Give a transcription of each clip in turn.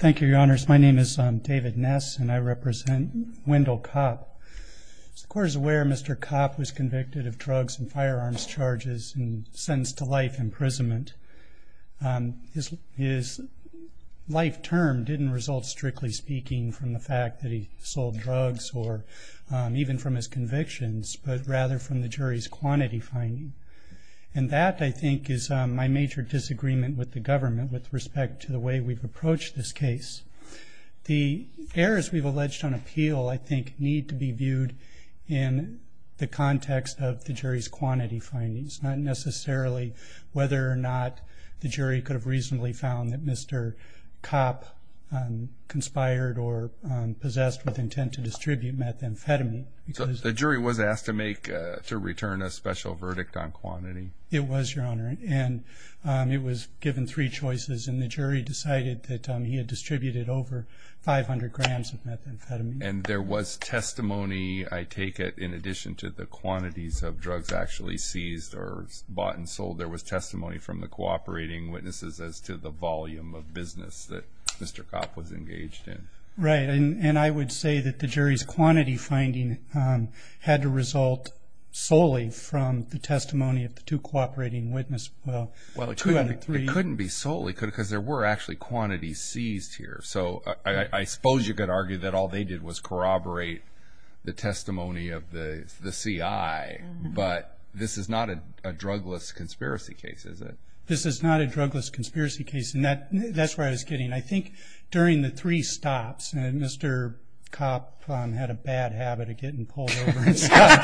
Thank you, Your Honors. My name is David Ness and I represent Wendell Kopp. As the Court is aware, Mr. Kopp was convicted of drugs and firearms charges and sentenced to life imprisonment. His life term didn't result, strictly speaking, from the fact that he sold drugs or even from his convictions, but rather from the jury's quantity finding. And that, I think, is my major disagreement with the government with respect to the way we've approached this case. The errors we've alleged on appeal, I think, need to be viewed in the context of the jury's quantity findings, not necessarily whether or not the jury could have reasonably found that Mr. Kopp conspired or possessed with intent to distribute methamphetamine. So the jury was asked to return a special verdict on quantity? It was, Your Honor, and it was given three choices, and the jury decided that he had distributed over 500 grams of methamphetamine. And there was testimony, I take it, in addition to the quantities of drugs actually seized or bought and sold, there was testimony from the cooperating witnesses as to the volume of business that Mr. Kopp was engaged in. Right, and I would say that the jury's quantity finding had to result solely from the testimony of the two cooperating witnesses. Well, it couldn't be solely because there were actually quantities seized here. So I suppose you could argue that all they did was corroborate the testimony of the CI, but this is not a drugless conspiracy case, is it? This is not a drugless conspiracy case, and that's where I was getting. I think during the three stops, Mr. Kopp had a bad habit of getting pulled over and stuff,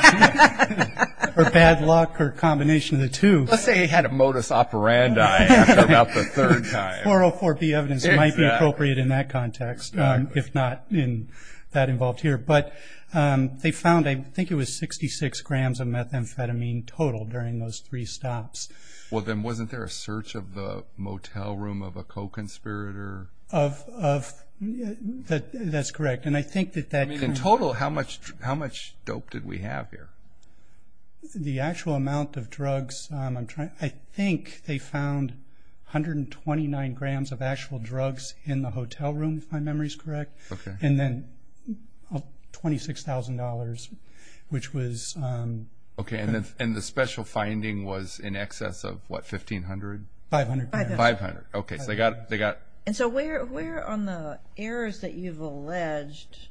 or bad luck or a combination of the two. Let's say he had a modus operandi after about the third time. 404B evidence might be appropriate in that context, if not in that involved here. But they found, I think it was 66 grams of methamphetamine total during those three stops. Well, then wasn't there a search of the motel room of a co-conspirator? That's correct. I mean, in total, how much dope did we have here? The actual amount of drugs, I think they found 129 grams of actual drugs in the hotel room, if my memory is correct. And then $26,000, which was... Okay, and the special finding was in excess of, what, $1,500? $500. $500. Okay, so they got... And so where on the errors that you've alleged,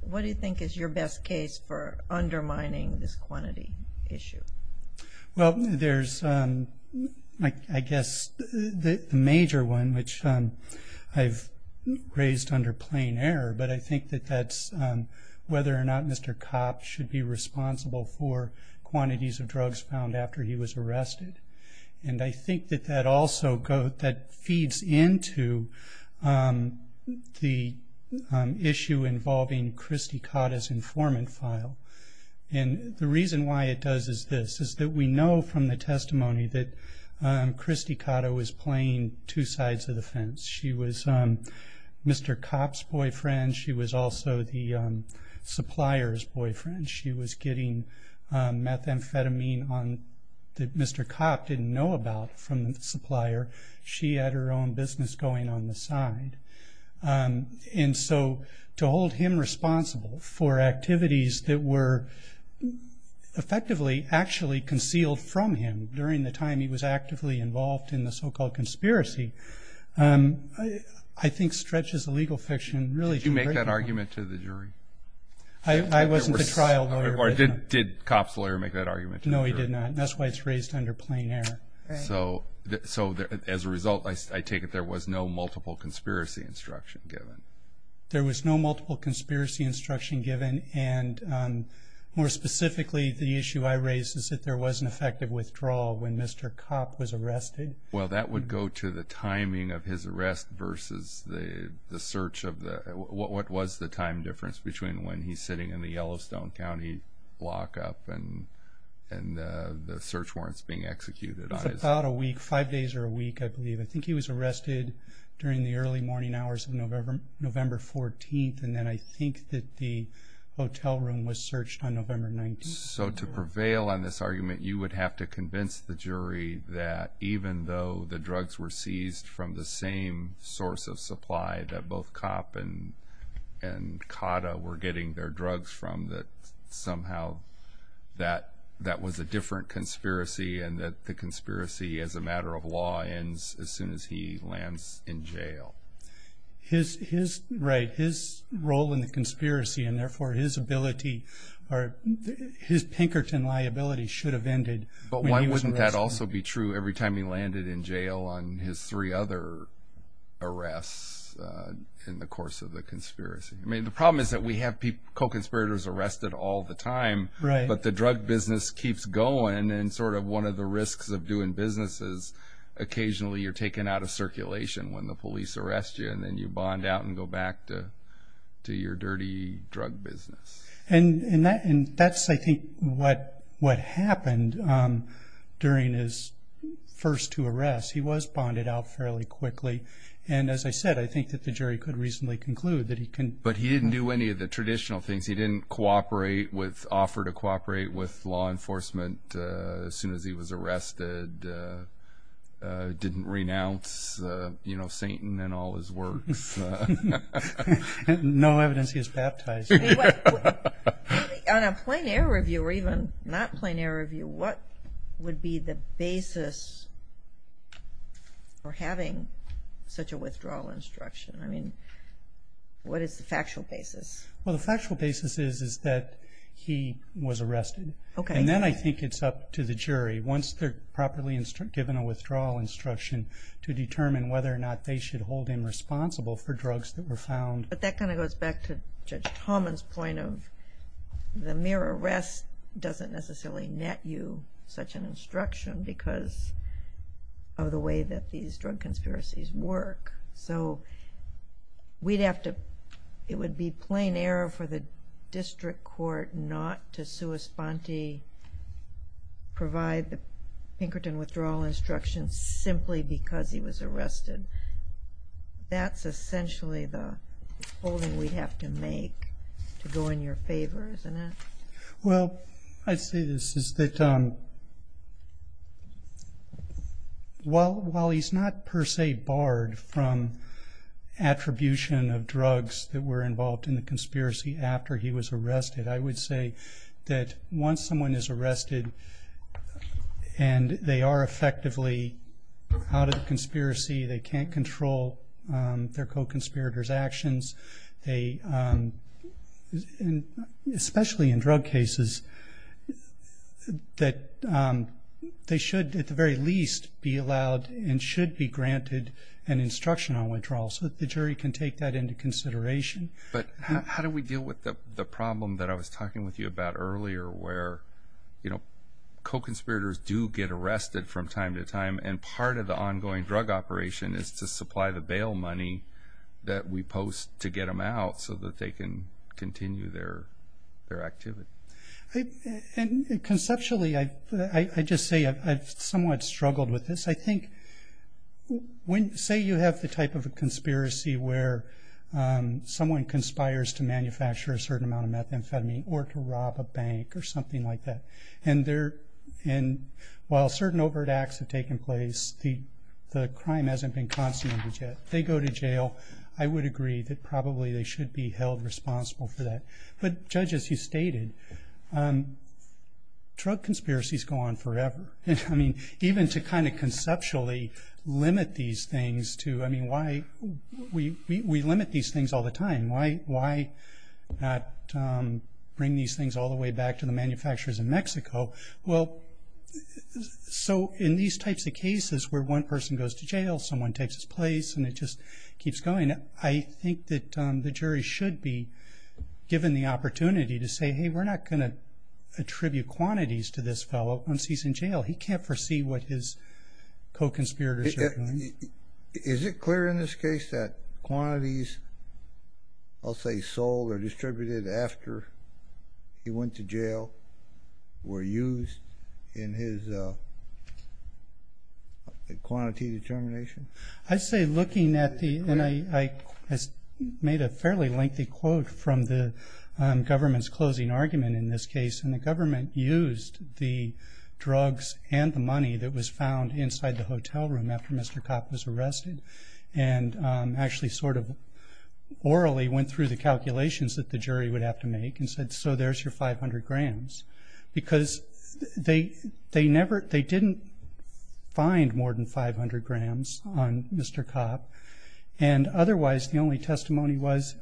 what do you think is your best case for undermining this quantity issue? Well, there's, I guess, the major one, which I've raised under plain error, but I think that that's whether or not Mr. Kopp should be responsible for quantities of drugs found after he was arrested. And I think that that also feeds into the issue involving Christy Cotta's informant file. And the reason why it does is this, is that we know from the testimony that Christy Cotta was playing two sides of the fence. She was Mr. Kopp's boyfriend. She was also the supplier's boyfriend. She was getting methamphetamine that Mr. Kopp didn't know about from the supplier. She had her own business going on the side. And so to hold him responsible for activities that were effectively actually concealed from him during the time he was actively involved in the so-called conspiracy, I think, stretches the legal fiction. Did you make that argument to the jury? I wasn't the trial lawyer. Or did Kopp's lawyer make that argument to the jury? No, he did not. And that's why it's raised under plain error. So as a result, I take it there was no multiple conspiracy instruction given. There was no multiple conspiracy instruction given. And more specifically, the issue I raise is that there was an effective withdrawal when Mr. Kopp was arrested. Well, that would go to the timing of his arrest versus the search of the what was the time difference between when he's sitting in the Yellowstone County block up and the search warrants being executed on his. It's about a week, five days or a week, I believe. I think he was arrested during the early morning hours of November 14th. And then I think that the hotel room was searched on November 19th. So to prevail on this argument, you would have to convince the jury that even though the drugs were seized from the same source of supply that both Kopp and Cotta were getting their drugs from, that somehow that was a different conspiracy and that the conspiracy as a matter of law ends as soon as he lands in jail. Right, his role in the conspiracy and therefore his ability or his Pinkerton liability should have ended when he was arrested. But why wouldn't that also be true every time he landed in jail on his three other arrests in the course of the conspiracy? I mean, the problem is that we have co-conspirators arrested all the time, but the drug business keeps going and sort of one of the risks of doing business is occasionally you're taken out of circulation when the police arrest you and then you bond out and go back to your dirty drug business. And that's, I think, what happened during his first two arrests. He was bonded out fairly quickly. And as I said, I think that the jury could reasonably conclude that he can. But he didn't do any of the traditional things. He didn't cooperate with, offer to cooperate with law enforcement as soon as he was arrested, didn't renounce, you know, Satan and all his works. No evidence he was baptized. On a plein air review or even not plein air review, what would be the basis for having such a withdrawal instruction? I mean, what is the factual basis? Well, the factual basis is that he was arrested. And then I think it's up to the jury, once they're properly given a withdrawal instruction, to determine whether or not they should hold him responsible for drugs that were found. But that kind of goes back to Judge Talman's point of the mere arrest doesn't necessarily net you such an instruction because of the way that these drug conspiracies work. So we'd have to, it would be plein air for the district court not to sua sponte, provide the Pinkerton withdrawal instruction simply because he was arrested. That's essentially the holding we'd have to make to go in your favor, isn't it? Well, I'd say this is that while he's not per se barred from attribution of drugs that were involved in the conspiracy after he was arrested, I would say that once someone is arrested and they are effectively out of the conspiracy, they can't control their co-conspirator's actions, especially in drug cases, that they should at the very least be allowed and should be granted an instruction on withdrawal so that the jury can take that into consideration. But how do we deal with the problem that I was talking with you about earlier where co-conspirators do get arrested from time to time and part of the ongoing drug operation is to supply the bail money that we post to get them out so that they can continue their activity? And conceptually, I'd just say I've somewhat struggled with this. I think when, say you have the type of a conspiracy where someone conspires to manufacture a certain amount of methamphetamine or to rob a bank or something like that, and while certain overt acts have taken place, the crime hasn't been consummated yet. They go to jail. I would agree that probably they should be held responsible for that. But, Judge, as you stated, drug conspiracies go on forever. I mean, even to kind of conceptually limit these things to, I mean, why? We limit these things all the time. Why not bring these things all the way back to the manufacturers in Mexico? Well, so in these types of cases where one person goes to jail, someone takes his place, and it just keeps going, I think that the jury should be given the opportunity to say, hey, we're not going to attribute quantities to this fellow once he's in jail. He can't foresee what his co-conspirators are doing. Is it clear in this case that quantities, I'll say sold or distributed after he went to jail, were used in his quantity determination? I'd say looking at the, and I made a fairly lengthy quote from the government's closing argument in this case, and the government used the drugs and the money that was found inside the hotel room after Mr. Kopp was arrested, and actually sort of orally went through the calculations that the jury would have to make and said, so there's your 500 grams. Because they didn't find more than 500 grams on Mr. Kopp, and otherwise the only testimony was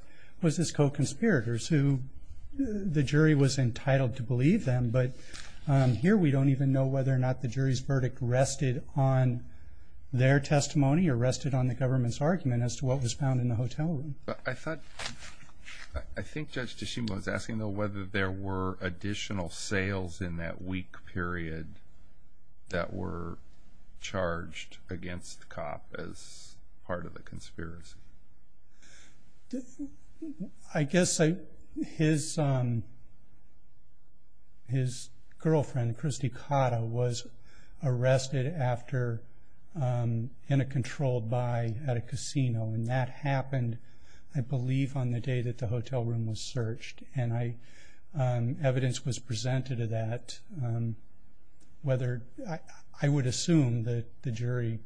his co-conspirators, who the jury was entitled to believe them. But here we don't even know whether or not the jury's verdict rested on their testimony or rested on the government's argument as to what was found in the hotel room. But I thought, I think Judge Tshishima was asking, though, whether there were additional sales in that week period that were charged against Kopp as part of the conspiracy. I guess his girlfriend, Christy Cotta, was arrested in a controlled buy at a casino, and that happened, I believe, on the day that the hotel room was searched. And evidence was presented to that. I would assume that the jury,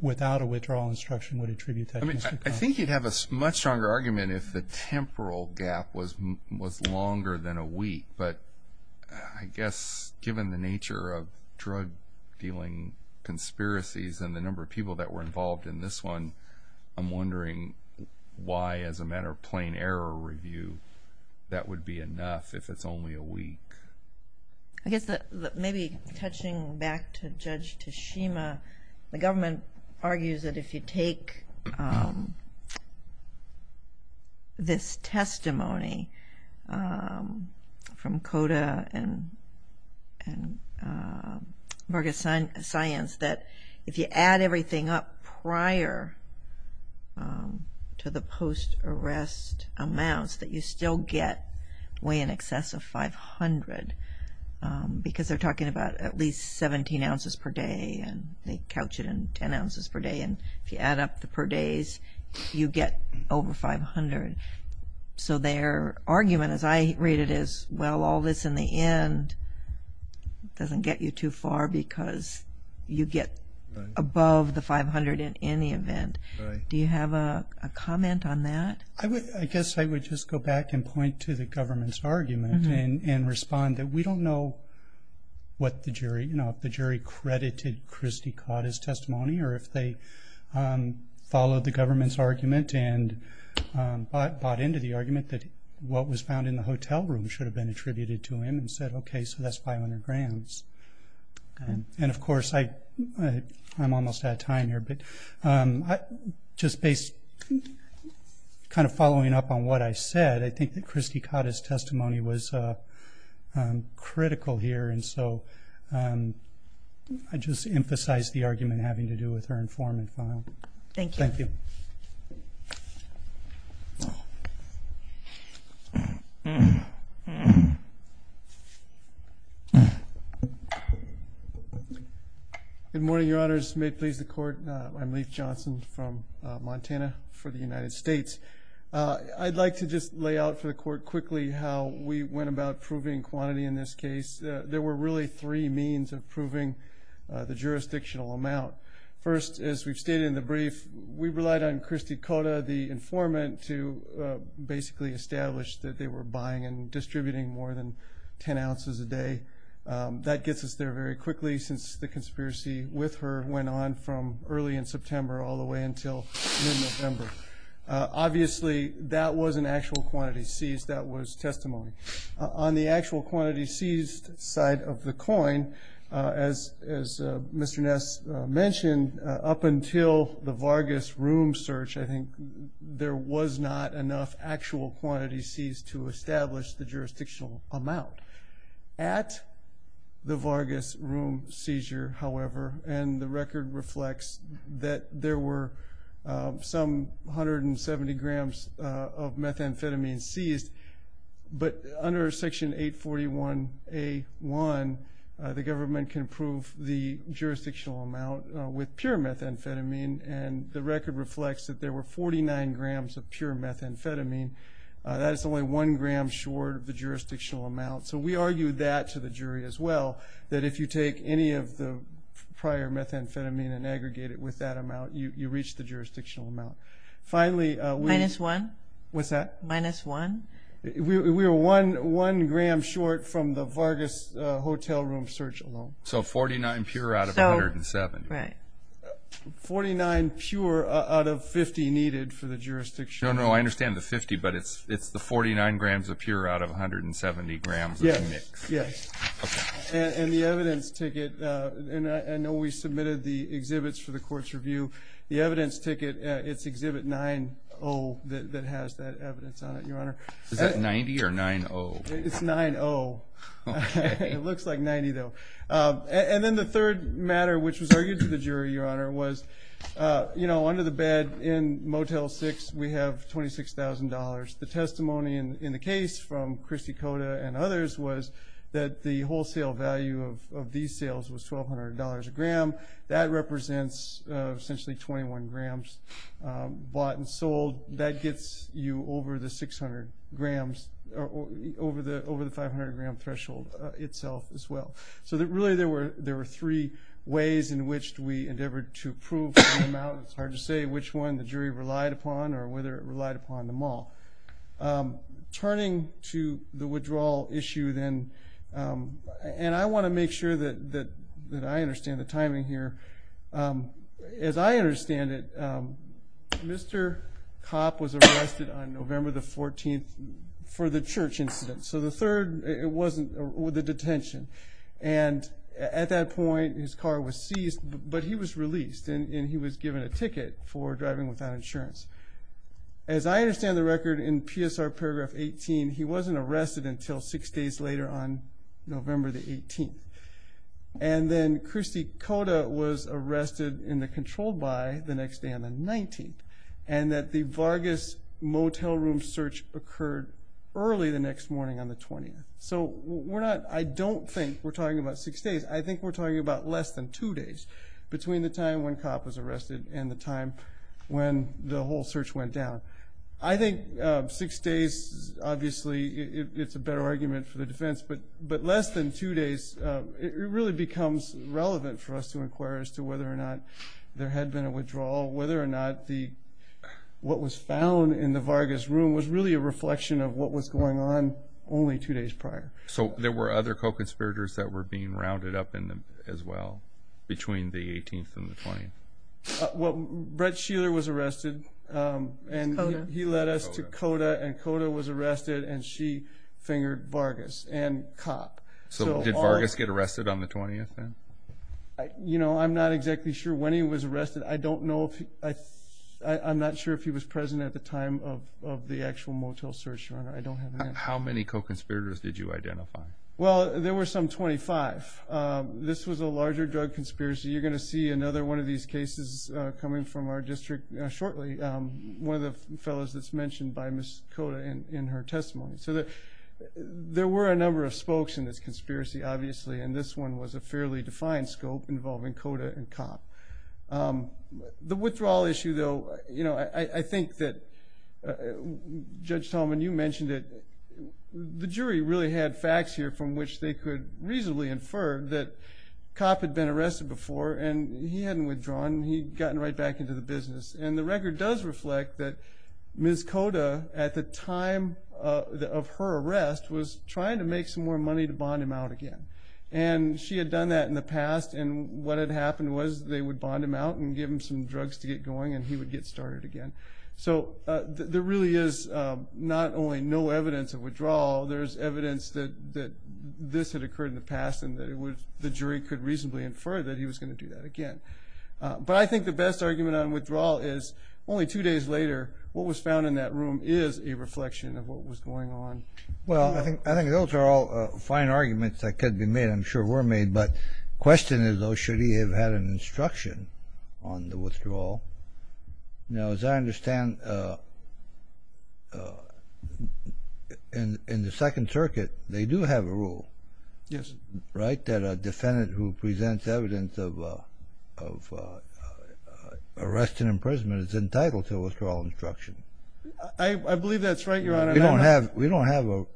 without a withdrawal instruction, would attribute that to Mr. Kopp. I think you'd have a much stronger argument if the temporal gap was longer than a week. But I guess given the nature of drug-dealing conspiracies and the number of people that were involved in this one, I'm wondering why, as a matter of plain error review, that would be enough if it's only a week. I guess maybe touching back to Judge Tshishima, the government argues that if you take this testimony from Cotta and Berger Science, that if you add everything up prior to the post-arrest amounts, that you still get way in excess of 500, because they're talking about at least 17 ounces per day, and they couch it in 10 ounces per day. And if you add up the per days, you get over 500. So their argument, as I read it, is, well, all this in the end doesn't get you too far because you get above the 500 in any event. Do you have a comment on that? I guess I would just go back and point to the government's argument and respond that we don't know if the jury credited Christie Cotta's testimony or if they followed the government's argument and bought into the argument that what was found in the hotel room should have been attributed to him and said, okay, so that's 500 grams. And, of course, I'm almost out of time here, but just kind of following up on what I said, I think that Christie Cotta's testimony was critical here, and so I just emphasize the argument having to do with her informant file. Thank you. Thank you. Good morning, Your Honors. May it please the Court. I'm Leif Johnson from Montana for the United States. I'd like to just lay out for the Court quickly how we went about proving quantity in this case. There were really three means of proving the jurisdictional amount. First, as we've stated in the brief, we relied on Christie Cotta, the informant, to basically establish that they were buying and distributing more than 10 ounces a day. That gets us there very quickly since the conspiracy with her went on from early in September all the way until mid-November. Obviously, that was an actual quantity seized. That was testimony. On the actual quantity seized side of the coin, as Mr. Ness mentioned, up until the Vargas room search, I think, there was not enough actual quantity seized to establish the jurisdictional amount. At the Vargas room seizure, however, and the record reflects that there were some 170 grams of methamphetamine seized, but under Section 841A1, the government can prove the jurisdictional amount with pure methamphetamine, and the record reflects that there were 49 grams of pure methamphetamine. That is only one gram short of the jurisdictional amount. So we argued that to the jury as well, that if you take any of the prior methamphetamine and aggregate it with that amount, you reach the jurisdictional amount. Minus one? What's that? Minus one? We were one gram short from the Vargas hotel room search alone. So 49 pure out of 170. Right. 49 pure out of 50 needed for the jurisdictional amount. No, no, I understand the 50, but it's the 49 grams of pure out of 170 grams of the mix. Yes, yes. Okay. And the evidence ticket, and I know we submitted the exhibits for the court's review. The evidence ticket, it's Exhibit 9-0 that has that evidence on it, Your Honor. Is that 90 or 9-0? It's 9-0. Okay. It looks like 90, though. And then the third matter, which was argued to the jury, Your Honor, was under the bed in Motel 6 we have $26,000. The testimony in the case from Christy Cota and others was that the wholesale value of these sales was $1,200 a gram. That represents essentially 21 grams bought and sold. That gets you over the 500-gram threshold itself as well. So really there were three ways in which we endeavored to prove the amount. It's hard to say which one the jury relied upon or whether it relied upon them all. Turning to the withdrawal issue then, and I want to make sure that I understand the timing here. As I understand it, Mr. Copp was arrested on November the 14th for the church incident. So the third, it wasn't the detention. And at that point his car was seized, but he was released, and he was given a ticket for driving without insurance. As I understand the record in PSR paragraph 18, he wasn't arrested until six days later on November the 18th. And then Christy Cota was arrested in the controlled by the next day on the 19th, and that the Vargas motel room search occurred early the next morning on the 20th. So I don't think we're talking about six days. I think we're talking about less than two days between the time when Copp was arrested and the time when the whole search went down. I think six days, obviously, it's a better argument for the defense, but less than two days, it really becomes relevant for us to inquire as to whether or not there had been a withdrawal, whether or not what was found in the Vargas room was really a reflection of what was going on only two days prior. So there were other co-conspirators that were being rounded up as well between the 18th and the 20th? Brett Sheeler was arrested, and he led us to Cota, and Cota was arrested, and she fingered Vargas and Copp. So did Vargas get arrested on the 20th then? You know, I'm not exactly sure when he was arrested. I don't know if he – I'm not sure if he was present at the time of the actual motel search, Your Honor. I don't have an answer. How many co-conspirators did you identify? Well, there were some 25. This was a larger drug conspiracy. You're going to see another one of these cases coming from our district shortly, one of the fellows that's mentioned by Ms. Cota in her testimony. So there were a number of spokes in this conspiracy, obviously, and this one was a fairly defined scope involving Cota and Copp. The withdrawal issue, though, you know, I think that Judge Tolman, you mentioned it. The jury really had facts here from which they could reasonably infer that Copp had been arrested before, and he hadn't withdrawn. He'd gotten right back into the business. And the record does reflect that Ms. Cota, at the time of her arrest, was trying to make some more money to bond him out again. And she had done that in the past, and what had happened was they would bond him out and give him some drugs to get going and he would get started again. So there really is not only no evidence of withdrawal, there's evidence that this had occurred in the past and that the jury could reasonably infer that he was going to do that again. But I think the best argument on withdrawal is only two days later, what was found in that room is a reflection of what was going on. Well, I think those are all fine arguments that could be made, I'm sure were made, but the question is, though, should he have had an instruction on the withdrawal? Now, as I understand, in the Second Circuit they do have a rule, right, that a defendant who presents evidence of arrest and imprisonment is entitled to a withdrawal instruction. I believe that's right, Your Honor. We don't have a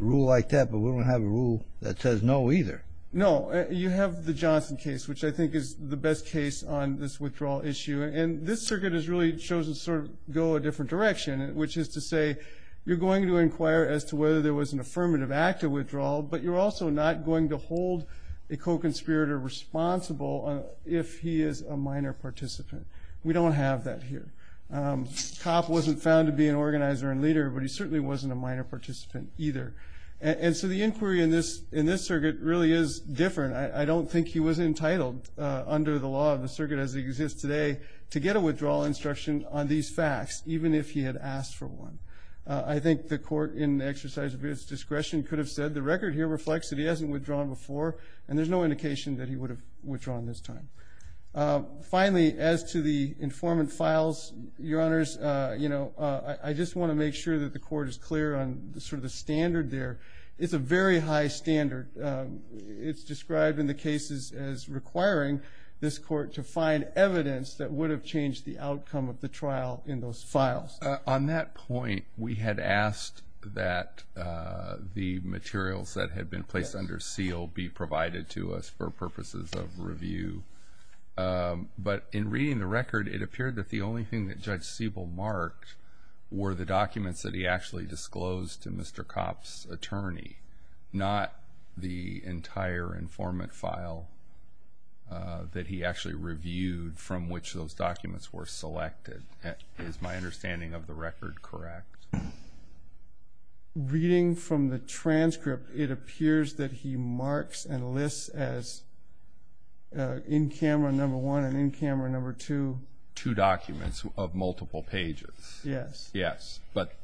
rule like that, but we don't have a rule that says no either. No. You have the Johnson case, which I think is the best case on this withdrawal issue, and this circuit has really chosen to sort of go a different direction, which is to say you're going to inquire as to whether there was an affirmative act of withdrawal, but you're also not going to hold a co-conspirator responsible if he is a minor participant. We don't have that here. Kopp wasn't found to be an organizer and leader, but he certainly wasn't a minor participant either. And so the inquiry in this circuit really is different. I don't think he was entitled under the law of the circuit as it exists today to get a withdrawal instruction on these facts, even if he had asked for one. I think the court in exercise of its discretion could have said the record here reflects that he hasn't withdrawn before, and there's no indication that he would have withdrawn this time. Finally, as to the informant files, Your Honors, you know, I just want to make sure that the court is clear on sort of the standard there. It's a very high standard. It's described in the cases as requiring this court to find evidence that would have changed the outcome of the trial in those files. On that point, we had asked that the materials that had been placed under seal be provided to us for purposes of review. But in reading the record, it appeared that the only thing that Judge Siebel marked were the documents that he actually disclosed to Mr. Kopp's attorney, not the entire informant file that he actually reviewed from which those documents were selected, is my understanding of the record correct? Reading from the transcript, it appears that he marks and lists as in camera number one and in camera number two. Two documents of multiple pages. Yes. Yes. But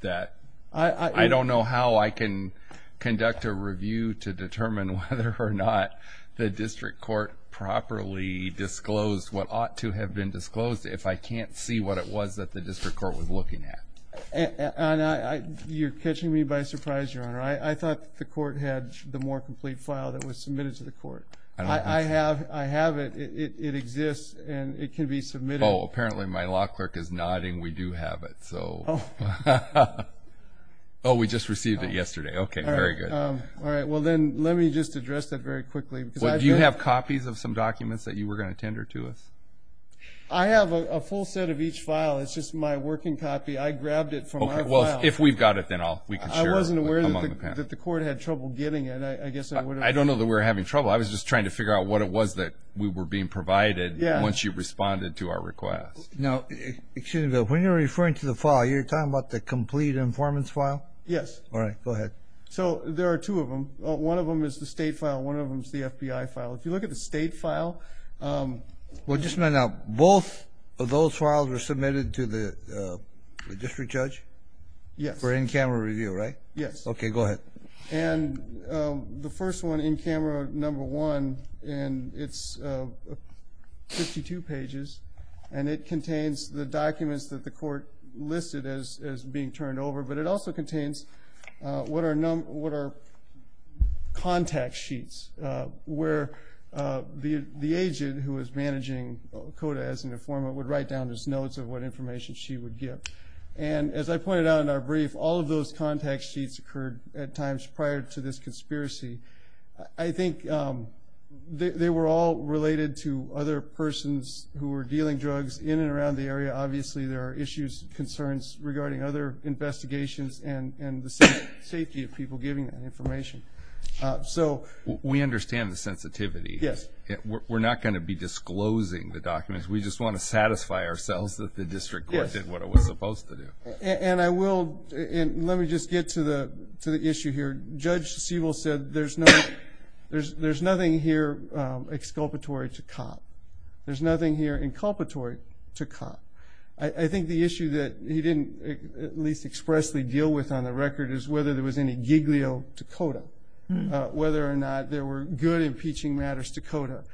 I don't know how I can conduct a review to determine whether or not the district court properly disclosed what ought to have been disclosed if I can't see what it was that the district court was looking at. You're catching me by surprise, Your Honor. I thought the court had the more complete file that was submitted to the court. I have it. It exists, and it can be submitted. Oh, apparently my law clerk is nodding we do have it. Oh, we just received it yesterday. Okay, very good. All right. Well, then let me just address that very quickly. Do you have copies of some documents that you were going to tender to us? I have a full set of each file. It's just my working copy. I grabbed it from my file. Okay, well, if we've got it, then we can share it among the panel. I wasn't aware that the court had trouble getting it. I guess I would have. I don't know that we were having trouble. I was just trying to figure out what it was that we were being provided once you responded to our request. Now, excuse me, but when you're referring to the file, you're talking about the complete informant's file? Yes. All right, go ahead. So there are two of them. One of them is the state file. One of them is the FBI file. If you look at the state file. Well, just a minute. Now, both of those files were submitted to the district judge? Yes. For in-camera review, right? Yes. Okay, go ahead. And the first one, in-camera number one, and it's 52 pages, and it contains the documents that the court listed as being turned over, but it also contains what are contact sheets where the agent who is managing CODA as an informant would write down his notes of what information she would give. And as I pointed out in our brief, all of those contact sheets occurred at times prior to this conspiracy. I think they were all related to other persons who were dealing drugs in and around the area. Obviously, there are issues, concerns regarding other investigations and the safety of people giving that information. We understand the sensitivity. Yes. We're not going to be disclosing the documents. We just want to satisfy ourselves that the district court did what it was supposed to do. And I will, and let me just get to the issue here. Judge Sewell said there's nothing here exculpatory to cop. There's nothing here inculpatory to cop. I think the issue that he didn't at least expressly deal with on the record is whether there was any giglio to CODA, whether or not there were good impeaching matters to CODA.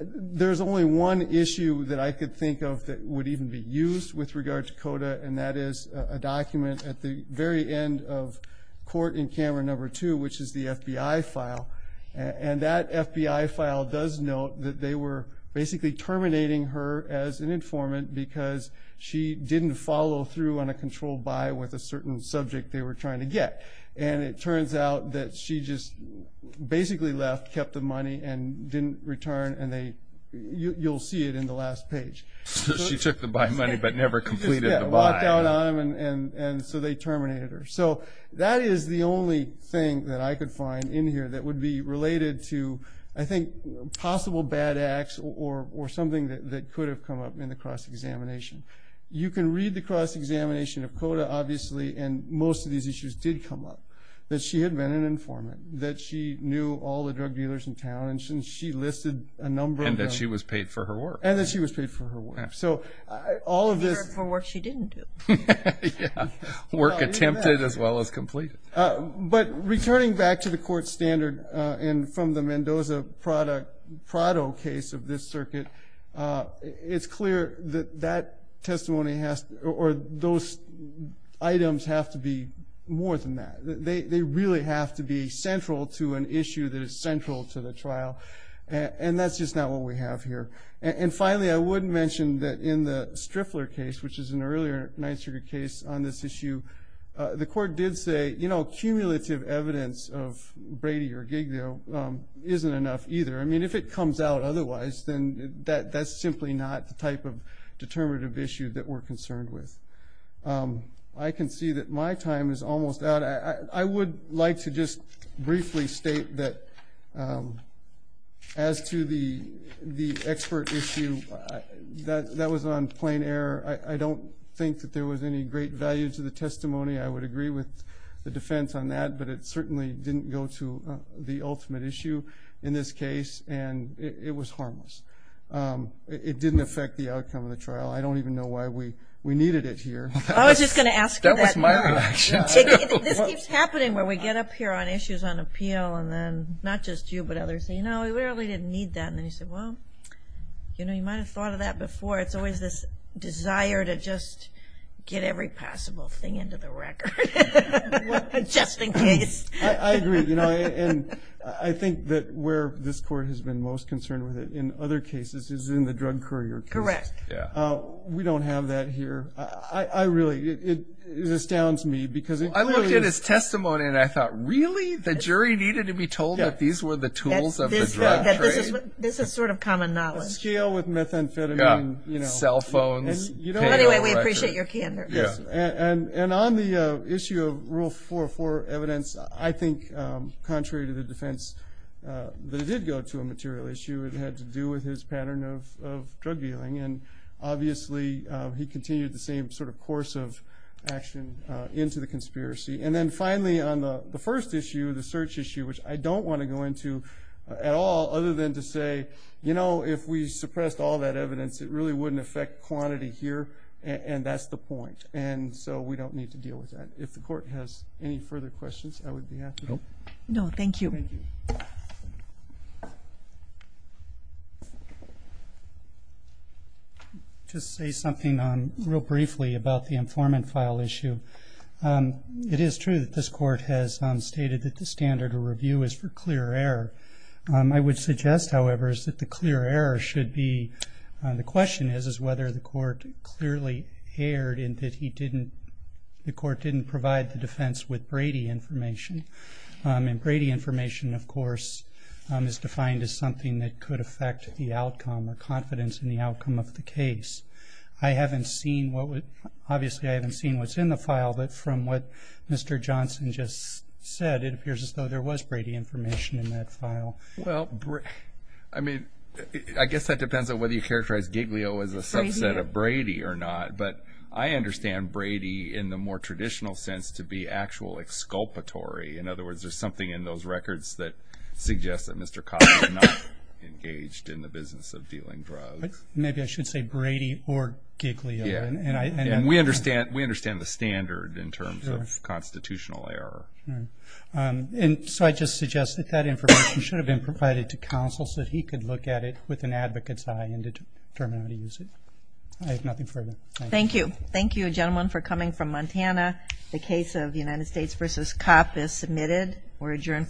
There's only one issue that I could think of that would even be used with regard to CODA, and that is a document at the very end of court in-camera number two, which is the FBI file. And that FBI file does note that they were basically terminating her as an informant because she didn't follow through on a controlled buy with a certain subject they were trying to get. And it turns out that she just basically left, kept the money, and didn't return. And you'll see it in the last page. She took the buy money but never completed the buy. Walked out on them, and so they terminated her. So that is the only thing that I could find in here that would be related to, I think, possible bad acts or something that could have come up in the cross-examination. You can read the cross-examination of CODA, obviously, and most of these issues did come up, that she had been an informant, that she knew all the drug dealers in town, and she listed a number of them. And that she was paid for her work. And that she was paid for her work. She was paid for work she didn't do. Work attempted as well as completed. But returning back to the court standard and from the Mendoza-Prado case of this circuit, it's clear that those items have to be more than that. They really have to be central to an issue that is central to the trial. And that's just not what we have here. And, finally, I would mention that in the Striffler case, which is an earlier Ninth Circuit case on this issue, the court did say, you know, cumulative evidence of Brady or Giglio isn't enough either. I mean, if it comes out otherwise, then that's simply not the type of determinative issue that we're concerned with. I can see that my time is almost out. I would like to just briefly state that as to the expert issue, that was on plain error. I don't think that there was any great value to the testimony. I would agree with the defense on that. But it certainly didn't go to the ultimate issue in this case. And it was harmless. It didn't affect the outcome of the trial. I don't even know why we needed it here. That was my reaction, too. This keeps happening where we get up here on issues on appeal, and then not just you but others say, you know, we really didn't need that. And then you say, well, you know, you might have thought of that before. It's always this desire to just get every possible thing into the record just in case. I agree. And I think that where this court has been most concerned with it in other cases is in the drug courier case. Correct. We don't have that here. It astounds me. I looked at his testimony and I thought, really? The jury needed to be told that these were the tools of the drug trade? This is sort of common knowledge. A scale with methamphetamine, you know. Cell phones. Anyway, we appreciate your candor. And on the issue of Rule 404 evidence, I think, contrary to the defense, that it did go to a material issue. It had to do with his pattern of drug dealing. And, obviously, he continued the same sort of course of action into the conspiracy. And then, finally, on the first issue, the search issue, which I don't want to go into at all other than to say, you know, if we suppressed all that evidence, it really wouldn't affect quantity here, and that's the point. And so we don't need to deal with that. If the court has any further questions, I would be happy. No, thank you. Thank you. Just say something real briefly about the informant file issue. It is true that this court has stated that the standard of review is for clear error. I would suggest, however, is that the clear error should be, the question is, is whether the court clearly erred in that he didn't, the court didn't provide the defense with Brady information. And Brady information, of course, is defined as something that could affect the outcome or confidence in the outcome of the case. I haven't seen what would, obviously I haven't seen what's in the file, but from what Mr. Johnson just said, it appears as though there was Brady information in that file. Well, I mean, I guess that depends on whether you characterize Giglio as a subset of Brady or not. But I understand Brady in the more traditional sense to be actual exculpatory. In other words, there's something in those records that suggests that Mr. Kopp is not engaged in the business of dealing drugs. Maybe I should say Brady or Giglio. Yeah. And we understand the standard in terms of constitutional error. And so I just suggest that that information should have been provided to counsel so that he could look at it with an advocate's eye and determine how to use it. I have nothing further. Thank you. Thank you, gentlemen, for coming from Montana. The case of United States v. Kopp is submitted. We're adjourned.